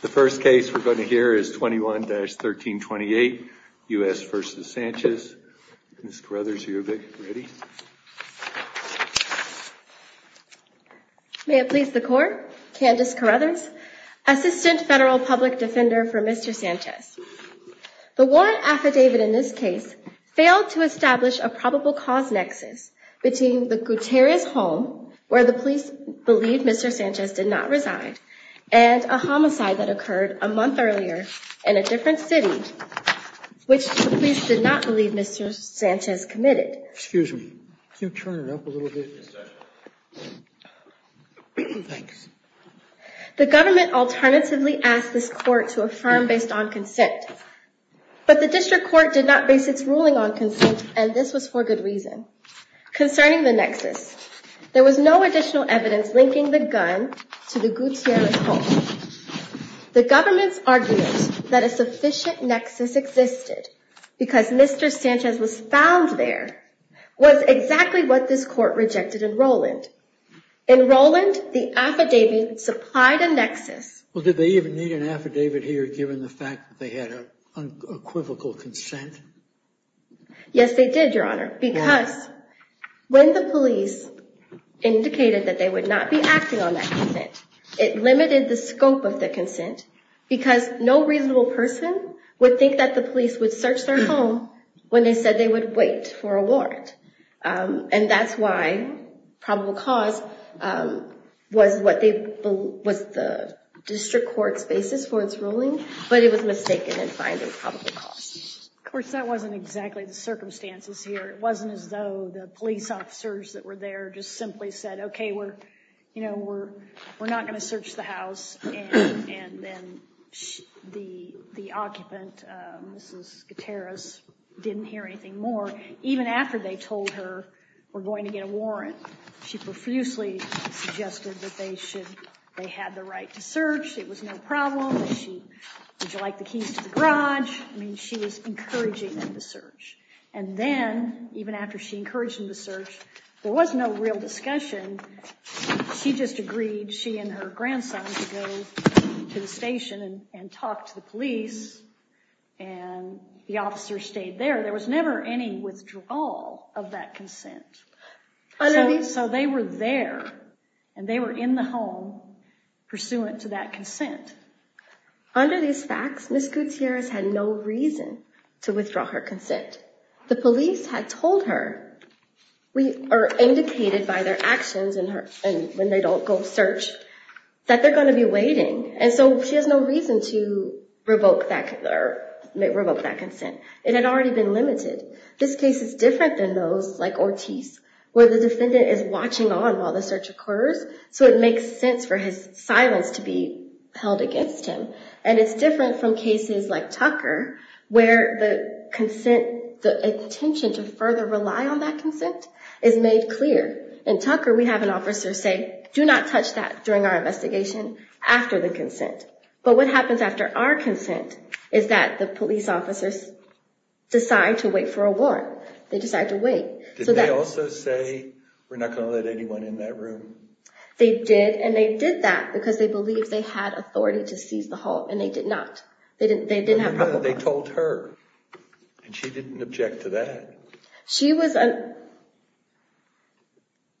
The first case we're going to hear is 21-1328, U.S. v. Sanchez. Ms. Carruthers, are you ready? May it please the Court, Candace Carruthers, Assistant Federal Public Defender for Mr. Sanchez. The warrant affidavit in this case failed to establish a probable cause nexus between the Gutierrez home, where the police believed Mr. Sanchez did not reside, and a homicide that occurred a month earlier in a different city, which the police did not believe Mr. Sanchez committed. Excuse me. Can you turn it up a little bit? Yes, Judge. Thanks. The government alternatively asked this Court to affirm based on consent, but the District Court did not base its ruling on consent, and this was for good reason. Concerning the nexus, there was no additional evidence linking the gun to the Gutierrez home. The government's argument that a sufficient nexus existed because Mr. Sanchez was found there was exactly what this Court rejected in Rowland. In Rowland, the affidavit supplied a nexus. Well, did they even need an affidavit here given the fact that they had an equivocal consent? Yes, they did, Your Honor, because when the police indicated that they would not be acting on that consent, it limited the scope of the consent because no reasonable person would think that the police would search their home when they said they would wait for a warrant. And that's why probable cause was the District Court's basis for its ruling, but it was mistaken in finding probable cause. Of course, that wasn't exactly the circumstances here. It wasn't as though the police officers that were there just simply said, okay, we're not going to search the house, and then the occupant, Mrs. Gutierrez, didn't hear anything more. Even after they told her, we're going to get a warrant, she profusely suggested that they had the right to search, it was no problem. Did you like the keys to the garage? I mean, she was encouraging them to search. And then, even after she encouraged them to search, there was no real discussion. She just agreed, she and her grandson, to go to the station and talk to the police, and the officers stayed there. There was never any withdrawal of that consent. So they were there, and they were in the home, pursuant to that consent. Under these facts, Mrs. Gutierrez had no reason to withdraw her consent. The police had told her, or indicated by their actions when they don't go search, that they're going to be waiting, and so she has no reason to revoke that consent. It had already been limited. This case is different than those like Ortiz, where the defendant is watching on while the search occurs, so it makes sense for his silence to be held against him. And it's different from cases like Tucker, where the intention to further rely on that consent is made clear. In Tucker, we have an officer say, do not touch that during our investigation, after the consent. But what happens after our consent, is that the police officers decide to wait for a warrant. They decide to wait. Did they also say, we're not going to let anyone in that room? They did, and they did that because they believed they had authority to seize the hall, and they did not. They didn't have a warrant. They told her, and she didn't object to that.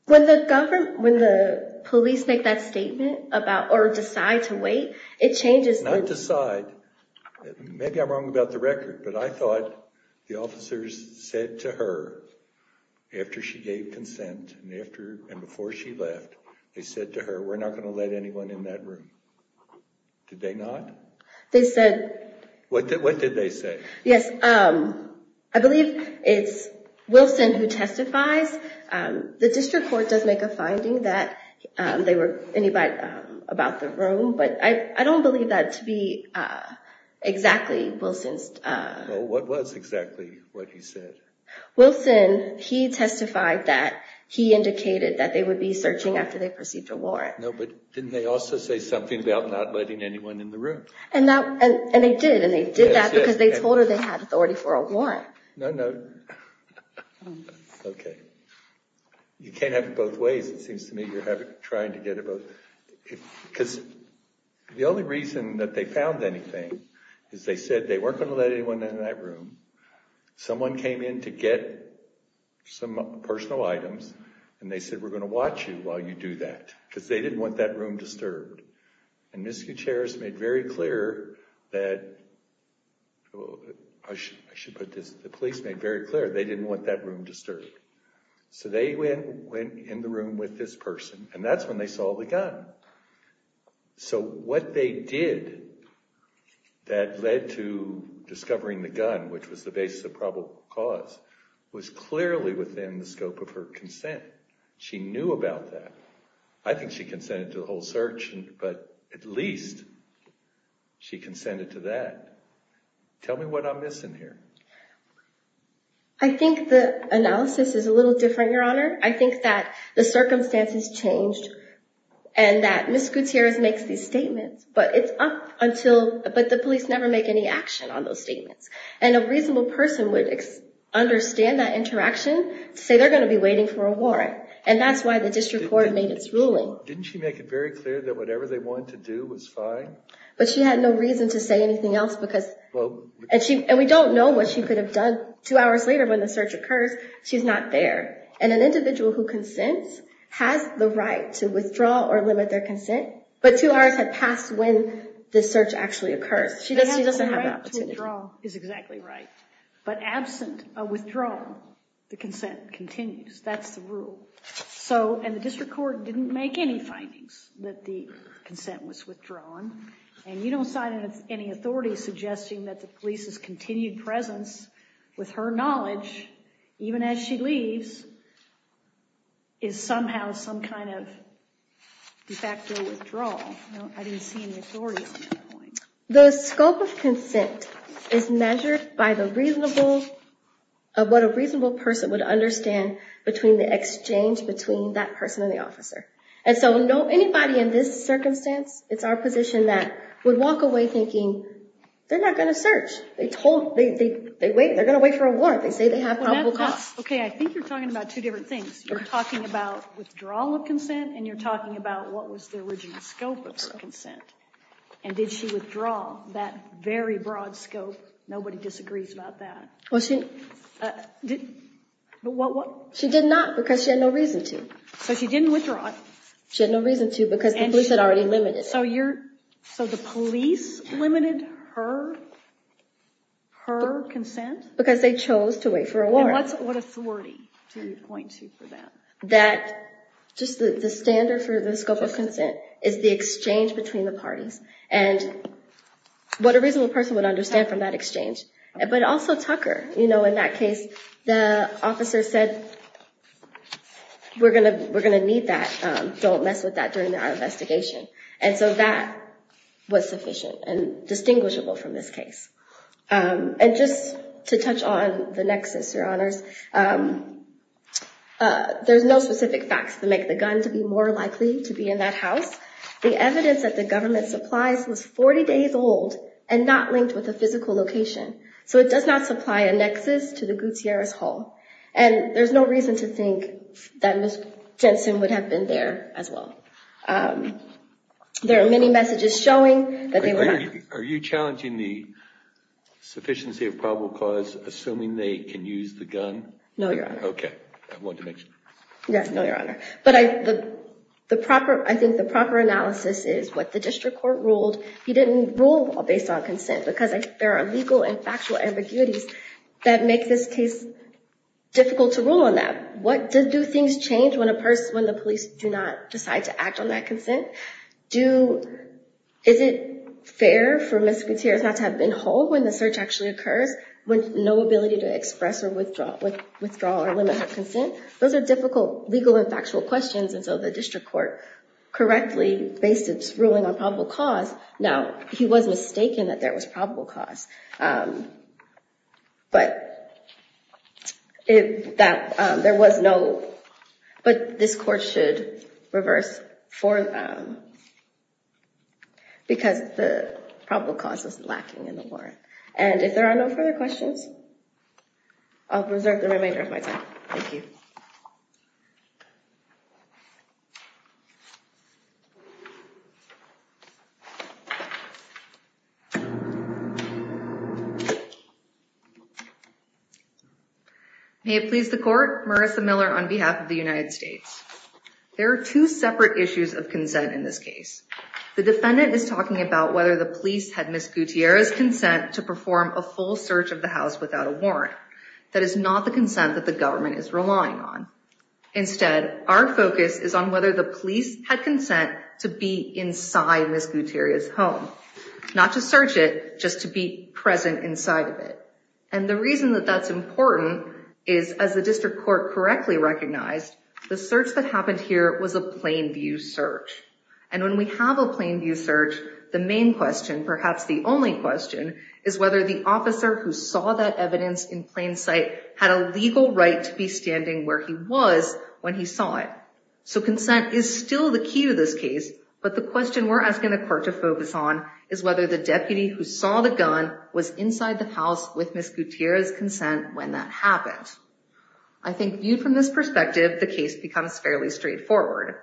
When the police make that statement, or decide to wait, it changes the... Not decide. Maybe I'm wrong about the record, but I thought the officers said to her, after she gave consent, and before she left, they said to her, we're not going to let anyone in that room. Did they not? They said... What did they say? Yes, I believe it's Wilson who testifies. The district court does make a finding that they were... About the room, but I don't believe that to be exactly Wilson's... Well, what was exactly what he said? Wilson, he testified that he indicated that they would be searching after they perceived a warrant. No, but didn't they also say something about not letting anyone in the room? And they did, and they did that because they told her they had authority for a warrant. No, no. Okay. You can't have it both ways, it seems to me. You're trying to get it both... Because the only reason that they found anything is they said they weren't going to let anyone in that room. Someone came in to get some personal items, and they said, we're going to watch you while you do that. Because they didn't want that room disturbed. And Ms. Gutierrez made very clear that... I should put this... The police made very clear they didn't want that room disturbed. So they went in the room with this person, and that's when they saw the gun. So what they did that led to discovering the gun, which was the basis of probable cause, was clearly within the scope of her consent. She knew about that. I think she consented to the whole search, but at least she consented to that. Tell me what I'm missing here. I think the analysis is a little different, Your Honor. I think that the circumstances changed, and that Ms. Gutierrez makes these statements, but it's up until... But the police never make any action on those statements. And a reasonable person would understand that interaction to say they're going to be waiting for a warrant. And that's why the district court made its ruling. Didn't she make it very clear that whatever they wanted to do was fine? But she had no reason to say anything else because... And we don't know what she could have done two hours later when the search occurs. She's not there. And an individual who consents has the right to withdraw or limit their consent, but two hours had passed when the search actually occurred. She doesn't have that opportunity. Withdrawal is exactly right. But absent a withdrawal, the consent continues. That's the rule. And the district court didn't make any findings that the consent was withdrawn. And you don't cite any authority suggesting that the police's continued presence, with her knowledge, even as she leaves, is somehow some kind of de facto withdrawal. I didn't see any authority on that point. The scope of consent is measured by what a reasonable person would understand between the exchange between that person and the officer. And so anybody in this circumstance, it's our position that we walk away thinking they're not going to search. They're going to wait for a warrant. They say they have probable cause. Okay, I think you're talking about two different things. You're talking about withdrawal of consent, and you're talking about what was the original scope of her consent. And did she withdraw that very broad scope? Nobody disagrees about that. She did not because she had no reason to. So she didn't withdraw it. She had no reason to because the police had already limited it. So the police limited her consent? Because they chose to wait for a warrant. And what authority do you point to for that? That just the standard for the scope of consent is the exchange between the parties and what a reasonable person would understand from that exchange. But also Tucker, you know, in that case, the officer said, we're going to need that, don't mess with that during our investigation. And so that was sufficient and distinguishable from this case. And just to touch on the nexus, Your Honors, there's no specific facts to make the gun to be more likely to be in that house. The evidence that the government supplies was 40 days old and not linked with a physical location. So it does not supply a nexus to the Gutierrez Hall. And there's no reason to think that Ms. Jensen would have been there as well. There are many messages showing that they were not. Are you challenging the sufficiency of probable cause, assuming they can use the gun? No, Your Honor. Okay, I wanted to make sure. Yes, no, Your Honor. But I think the proper analysis is what the district court ruled. He didn't rule based on consent because there are legal and factual ambiguities that make this case difficult to rule on that. Do things change when the police do not decide to act on that consent? Is it fair for Ms. Gutierrez not to have been home when the search actually occurs, with no ability to express or withdraw or limit her consent? Those are difficult legal and factual questions. And so the district court correctly based its ruling on probable cause. Now, he was mistaken that there was probable cause. But this court should reverse because the probable cause was lacking in the warrant. And if there are no further questions, I'll preserve the remainder of my time. Thank you. May it please the court. Marissa Miller on behalf of the United States. There are two separate issues of consent in this case. The defendant is talking about whether the police had Ms. Gutierrez's consent to perform a full search of the house without a warrant. That is not the consent that the government is relying on. Instead, our focus is on whether the police had consent to be inside Ms. Gutierrez's home. Not to search it, just to be present inside of it. And the reason that that's important is, as the district court correctly recognized, the search that happened here was a plain view search. And when we have a plain view search, the main question, perhaps the only question, is whether the officer who saw that evidence in plain sight had a legal right to be standing where he was when he saw it. So consent is still the key to this case. But the question we're asking the court to focus on is whether the deputy who saw the gun was inside the house with Ms. Gutierrez's consent when that happened. I think viewed from this perspective, the case becomes fairly straightforward.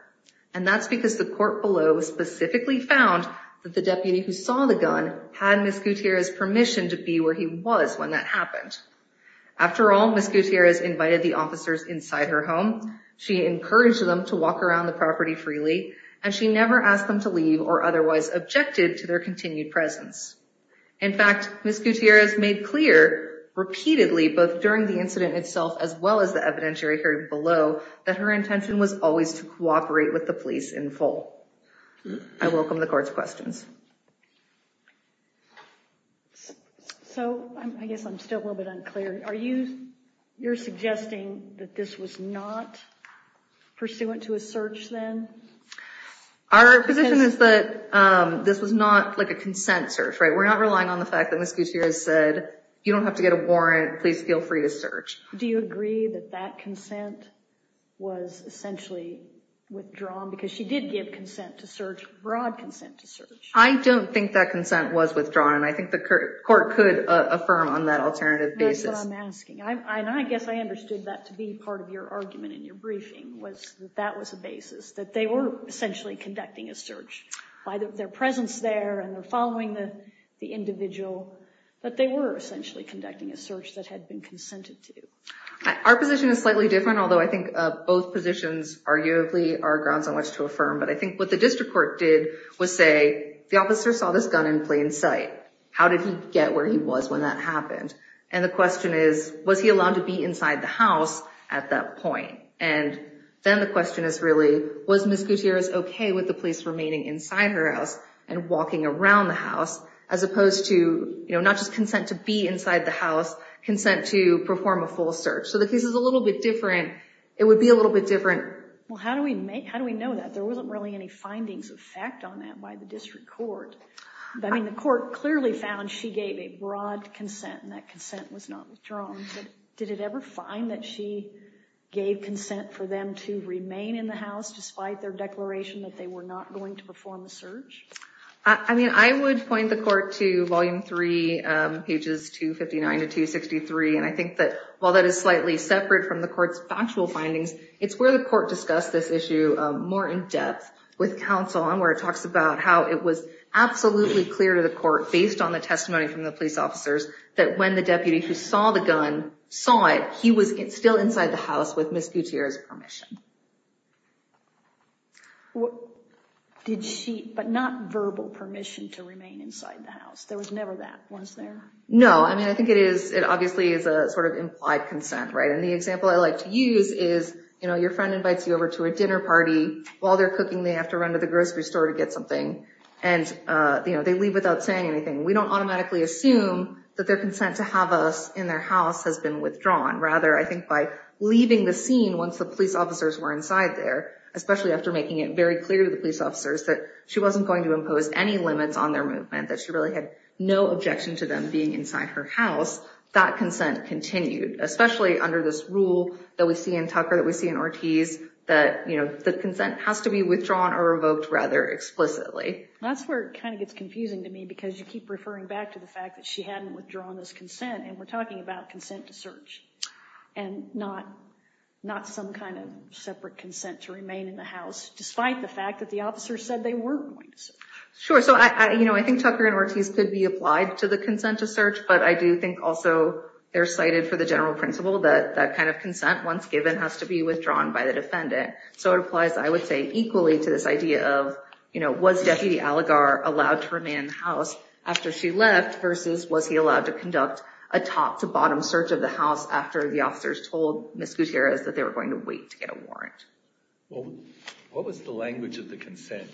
And that's because the court below specifically found that the deputy who saw the gun had Ms. Gutierrez's permission to be where he was when that happened. After all, Ms. Gutierrez invited the officers inside her home. She encouraged them to walk around the property freely. And she never asked them to leave or otherwise objected to their continued presence. In fact, Ms. Gutierrez made clear repeatedly, both during the incident itself as well as the evidentiary hearing below, that her intention was always to cooperate with the police in full. I welcome the court's questions. So I guess I'm still a little bit unclear. You're suggesting that this was not pursuant to a search then? Our position is that this was not like a consent search, right? We're not relying on the fact that Ms. Gutierrez said, you don't have to get a warrant, please feel free to search. Do you agree that that consent was essentially withdrawn? Because she did give consent to search, broad consent to search. I don't think that consent was withdrawn. And I think the court could affirm on that alternative basis. That's what I'm asking. And I guess I understood that to be part of your argument in your briefing, was that that was a basis, that they were essentially conducting a search. By their presence there and their following the individual, that they were essentially conducting a search that had been consented to. Our position is slightly different, although I think both positions arguably are grounds on which to affirm. But I think what the district court did was say, the officer saw this gun in plain sight. How did he get where he was when that happened? And the question is, was he allowed to be inside the house at that point? And then the question is really, was Ms. Gutierrez okay with the police remaining inside her house and walking around the house, as opposed to not just consent to be inside the house, consent to perform a full search? So the case is a little bit different. It would be a little bit different. Well, how do we know that? There wasn't really any findings of fact on that by the district court. I mean, the court clearly found she gave a broad consent and that consent was not withdrawn. Did it ever find that she gave consent for them to remain in the house, despite their declaration that they were not going to perform a search? I mean, I would point the court to Volume 3, pages 259 to 263, and I think that while that is slightly separate from the court's factual findings, it's where the court discussed this issue more in depth with counsel based on the testimony from the police officers, that when the deputy who saw the gun saw it, he was still inside the house with Ms. Gutierrez's permission. But not verbal permission to remain inside the house. There was never that, was there? No. I mean, I think it obviously is a sort of implied consent, right? And the example I like to use is, you know, your friend invites you over to a dinner party. While they're cooking, they have to run to the grocery store to get something. And, you know, they leave without saying anything. We don't automatically assume that their consent to have us in their house has been withdrawn. Rather, I think by leaving the scene once the police officers were inside there, especially after making it very clear to the police officers that she wasn't going to impose any limits on their movement, that she really had no objection to them being inside her house, that consent continued. Especially under this rule that we see in Tucker, that we see in Ortiz, that, you know, the consent has to be withdrawn or revoked rather explicitly. That's where it kind of gets confusing to me, because you keep referring back to the fact that she hadn't withdrawn this consent. And we're talking about consent to search, and not some kind of separate consent to remain in the house, despite the fact that the officers said they weren't going to search. Sure. So, you know, I think Tucker and Ortiz could be applied to the consent to search, but I do think also they're cited for the general principle that that kind of consent, once given, has to be withdrawn by the defendant. So it applies, I would say, equally to this idea of, you know, was Deputy Aligarh allowed to remain in the house after she left, versus was he allowed to conduct a top-to-bottom search of the house after the officers told Ms. Gutierrez that they were going to wait to get a warrant? Well, what was the language of the consent?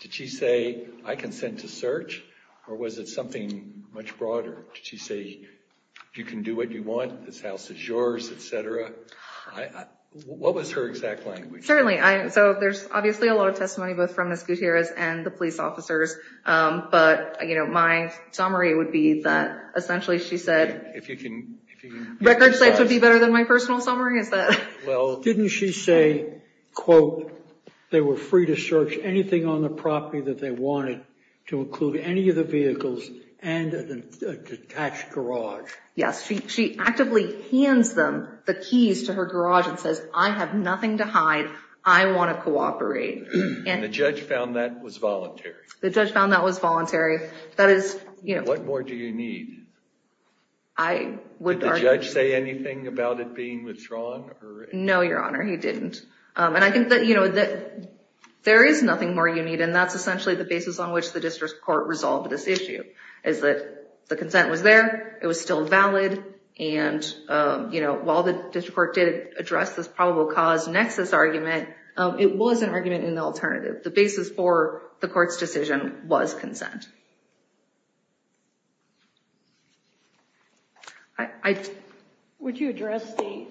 Did she say, I consent to search, or was it something much broader? Did she say, you can do what you want, this house is yours, et cetera? What was her exact language? Certainly. So there's obviously a lot of testimony both from Ms. Gutierrez and the police officers, but, you know, my summary would be that essentially she said record sites would be better than my personal summary. Well, didn't she say, quote, they were free to search anything on the property that they wanted to include any of the vehicles and a detached garage? Yes. She actively hands them the keys to her garage and says, I have nothing to hide, I want to cooperate. And the judge found that was voluntary? The judge found that was voluntary. What more do you need? Would the judge say anything about it being withdrawn? No, Your Honor, he didn't. And I think that, you know, there is nothing more you need, and that's essentially the basis on which the district court resolved this issue, is that the consent was there, it was still valid, and, you know, while the district court did address this probable cause nexus argument, it was an argument in the alternative. The basis for the court's decision was consent. Would you address the,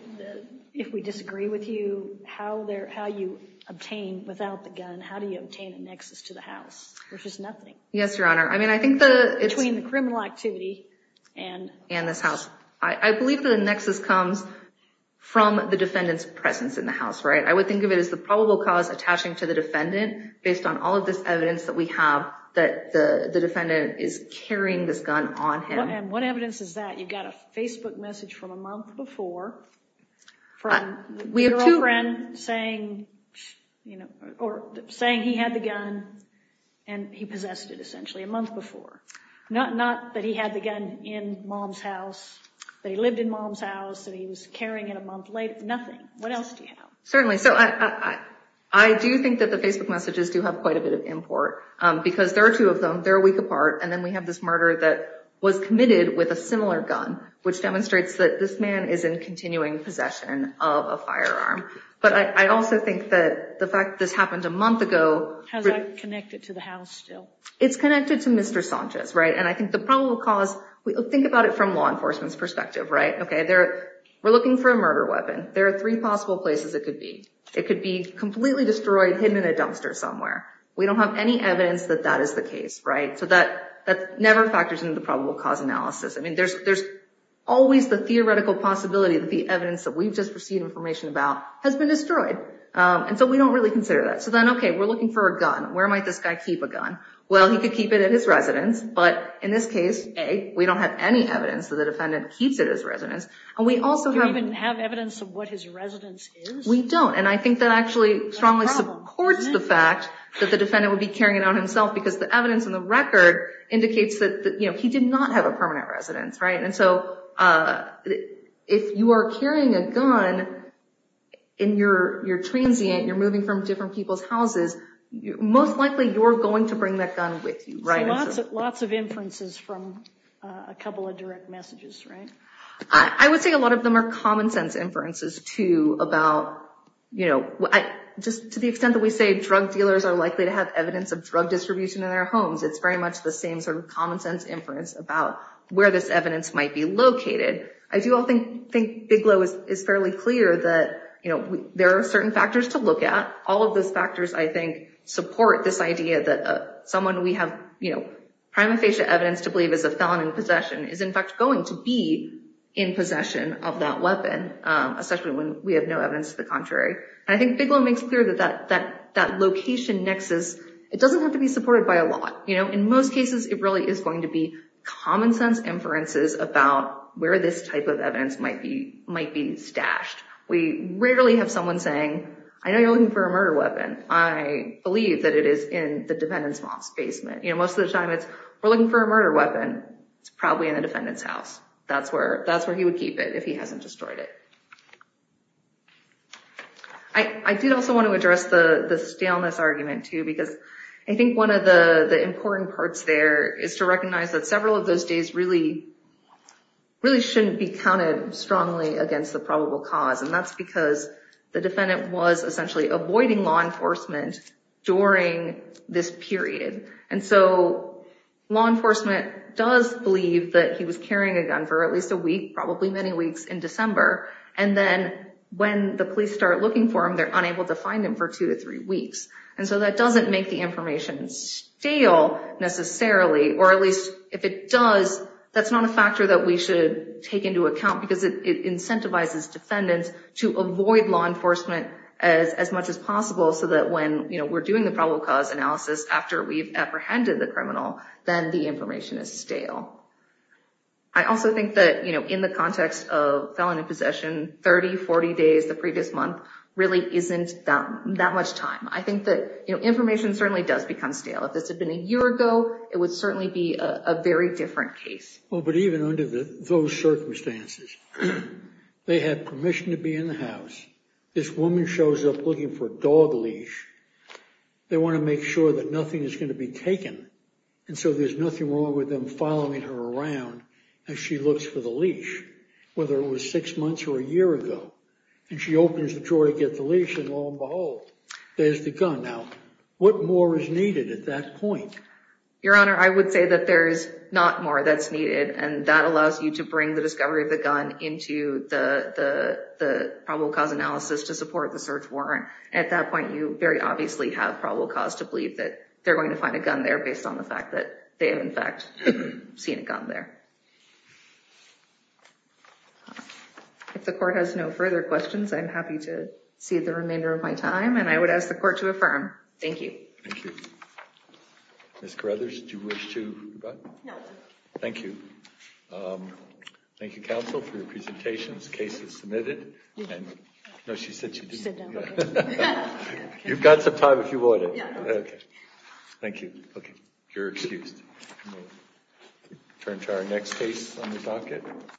if we disagree with you, how you obtain, without the gun, how do you obtain a nexus to the house, which is nothing? Yes, Your Honor. Between the criminal activity and this house. I believe that the nexus comes from the defendant's presence in the house, right? I would think of it as the probable cause attaching to the defendant, based on all of this evidence that we have, that the defendant is carrying this gun on him. And what evidence is that? You've got a Facebook message from a month before from your old friend saying, you know, or saying he had the gun and he possessed it, a month before. Not that he had the gun in mom's house, that he lived in mom's house, that he was carrying it a month later, nothing. What else do you have? Certainly. So I do think that the Facebook messages do have quite a bit of import, because there are two of them, they're a week apart, and then we have this murder that was committed with a similar gun, which demonstrates that this man is in continuing possession of a firearm. But I also think that the fact that this happened a month ago. Has that connected to the house still? It's connected to Mr. Sanchez, right? And I think the probable cause, think about it from law enforcement's perspective, right? Okay, we're looking for a murder weapon. There are three possible places it could be. It could be completely destroyed, hidden in a dumpster somewhere. We don't have any evidence that that is the case, right? So that never factors into the probable cause analysis. I mean, there's always the theoretical possibility that the evidence that we've just received information about has been destroyed. And so we don't really consider that. So then, okay, we're looking for a gun. Where might this guy keep a gun? Well, he could keep it at his residence. But in this case, A, we don't have any evidence that the defendant keeps it at his residence. Do we even have evidence of what his residence is? We don't. And I think that actually strongly supports the fact that the defendant would be carrying it on himself because the evidence in the record indicates that he did not have a permanent residence, right? And so if you are carrying a gun and you're transient, you're moving from different people's houses, most likely you're going to bring that gun with you, right? So lots of inferences from a couple of direct messages, right? I would say a lot of them are common sense inferences too about, you know, just to the extent that we say drug dealers are likely to have evidence of drug distribution in their homes, it's very much the same sort of common sense inference about where this evidence might be located. I do all think Bigelow is fairly clear that, you know, there are certain factors to look at. All of those factors, I think, support this idea that someone we have, you know, prima facie evidence to believe is a felon in possession is, in fact, going to be in possession of that weapon, especially when we have no evidence to the contrary. And I think Bigelow makes clear that that location nexus, it doesn't have to be supported by a lot. You know, in most cases, it really is going to be common sense inferences about where this type of evidence might be stashed. We rarely have someone saying, I know you're looking for a murder weapon. I believe that it is in the defendant's mom's basement. You know, most of the time it's, we're looking for a murder weapon. It's probably in the defendant's house. That's where he would keep it if he hasn't destroyed it. I did also want to address the staleness argument too, because I think one of the important parts there is to recognize that several of those days really shouldn't be counted strongly against the probable cause. And that's because the defendant was essentially avoiding law enforcement during this period. And so law enforcement does believe that he was carrying a gun for at least a week, probably many weeks in December. And then when the police start looking for him, they're unable to find him for two to three weeks. And so that doesn't make the information stale necessarily, or at least if it does, that's not a factor that we should take into account because it allows defendants to avoid law enforcement as much as possible so that when, you know, we're doing the probable cause analysis after we've apprehended the criminal, then the information is stale. I also think that, you know, in the context of felon in possession 30, 40 days the previous month really isn't that much time. I think that, you know, information certainly does become stale. If this had been a year ago, it would certainly be a very different case. Well, but even under those circumstances, they had permission to be in the house. This woman shows up looking for a dog leash. They want to make sure that nothing is going to be taken. And so there's nothing wrong with them following her around as she looks for the leash, whether it was six months or a year ago. And she opens the drawer to get the leash and lo and behold, there's the gun. Now, what more is needed at that point? Your Honor, I would say that there's not more that's needed. And that allows you to bring the discovery of the gun into the probable cause analysis to support the search warrant. At that point, you very obviously have probable cause to believe that they're going to find a gun there based on the fact that they have in fact seen a gun there. If the court has no further questions, I'm happy to see the remainder of my time and I would ask the court to affirm. Thank you. Ms. Carruthers, do you wish to go? No. Thank you. Thank you, counsel, for your presentations. Case is submitted. No, she said she didn't. You've got some time if you wanted. Thank you. We'll turn to our next case on the docket.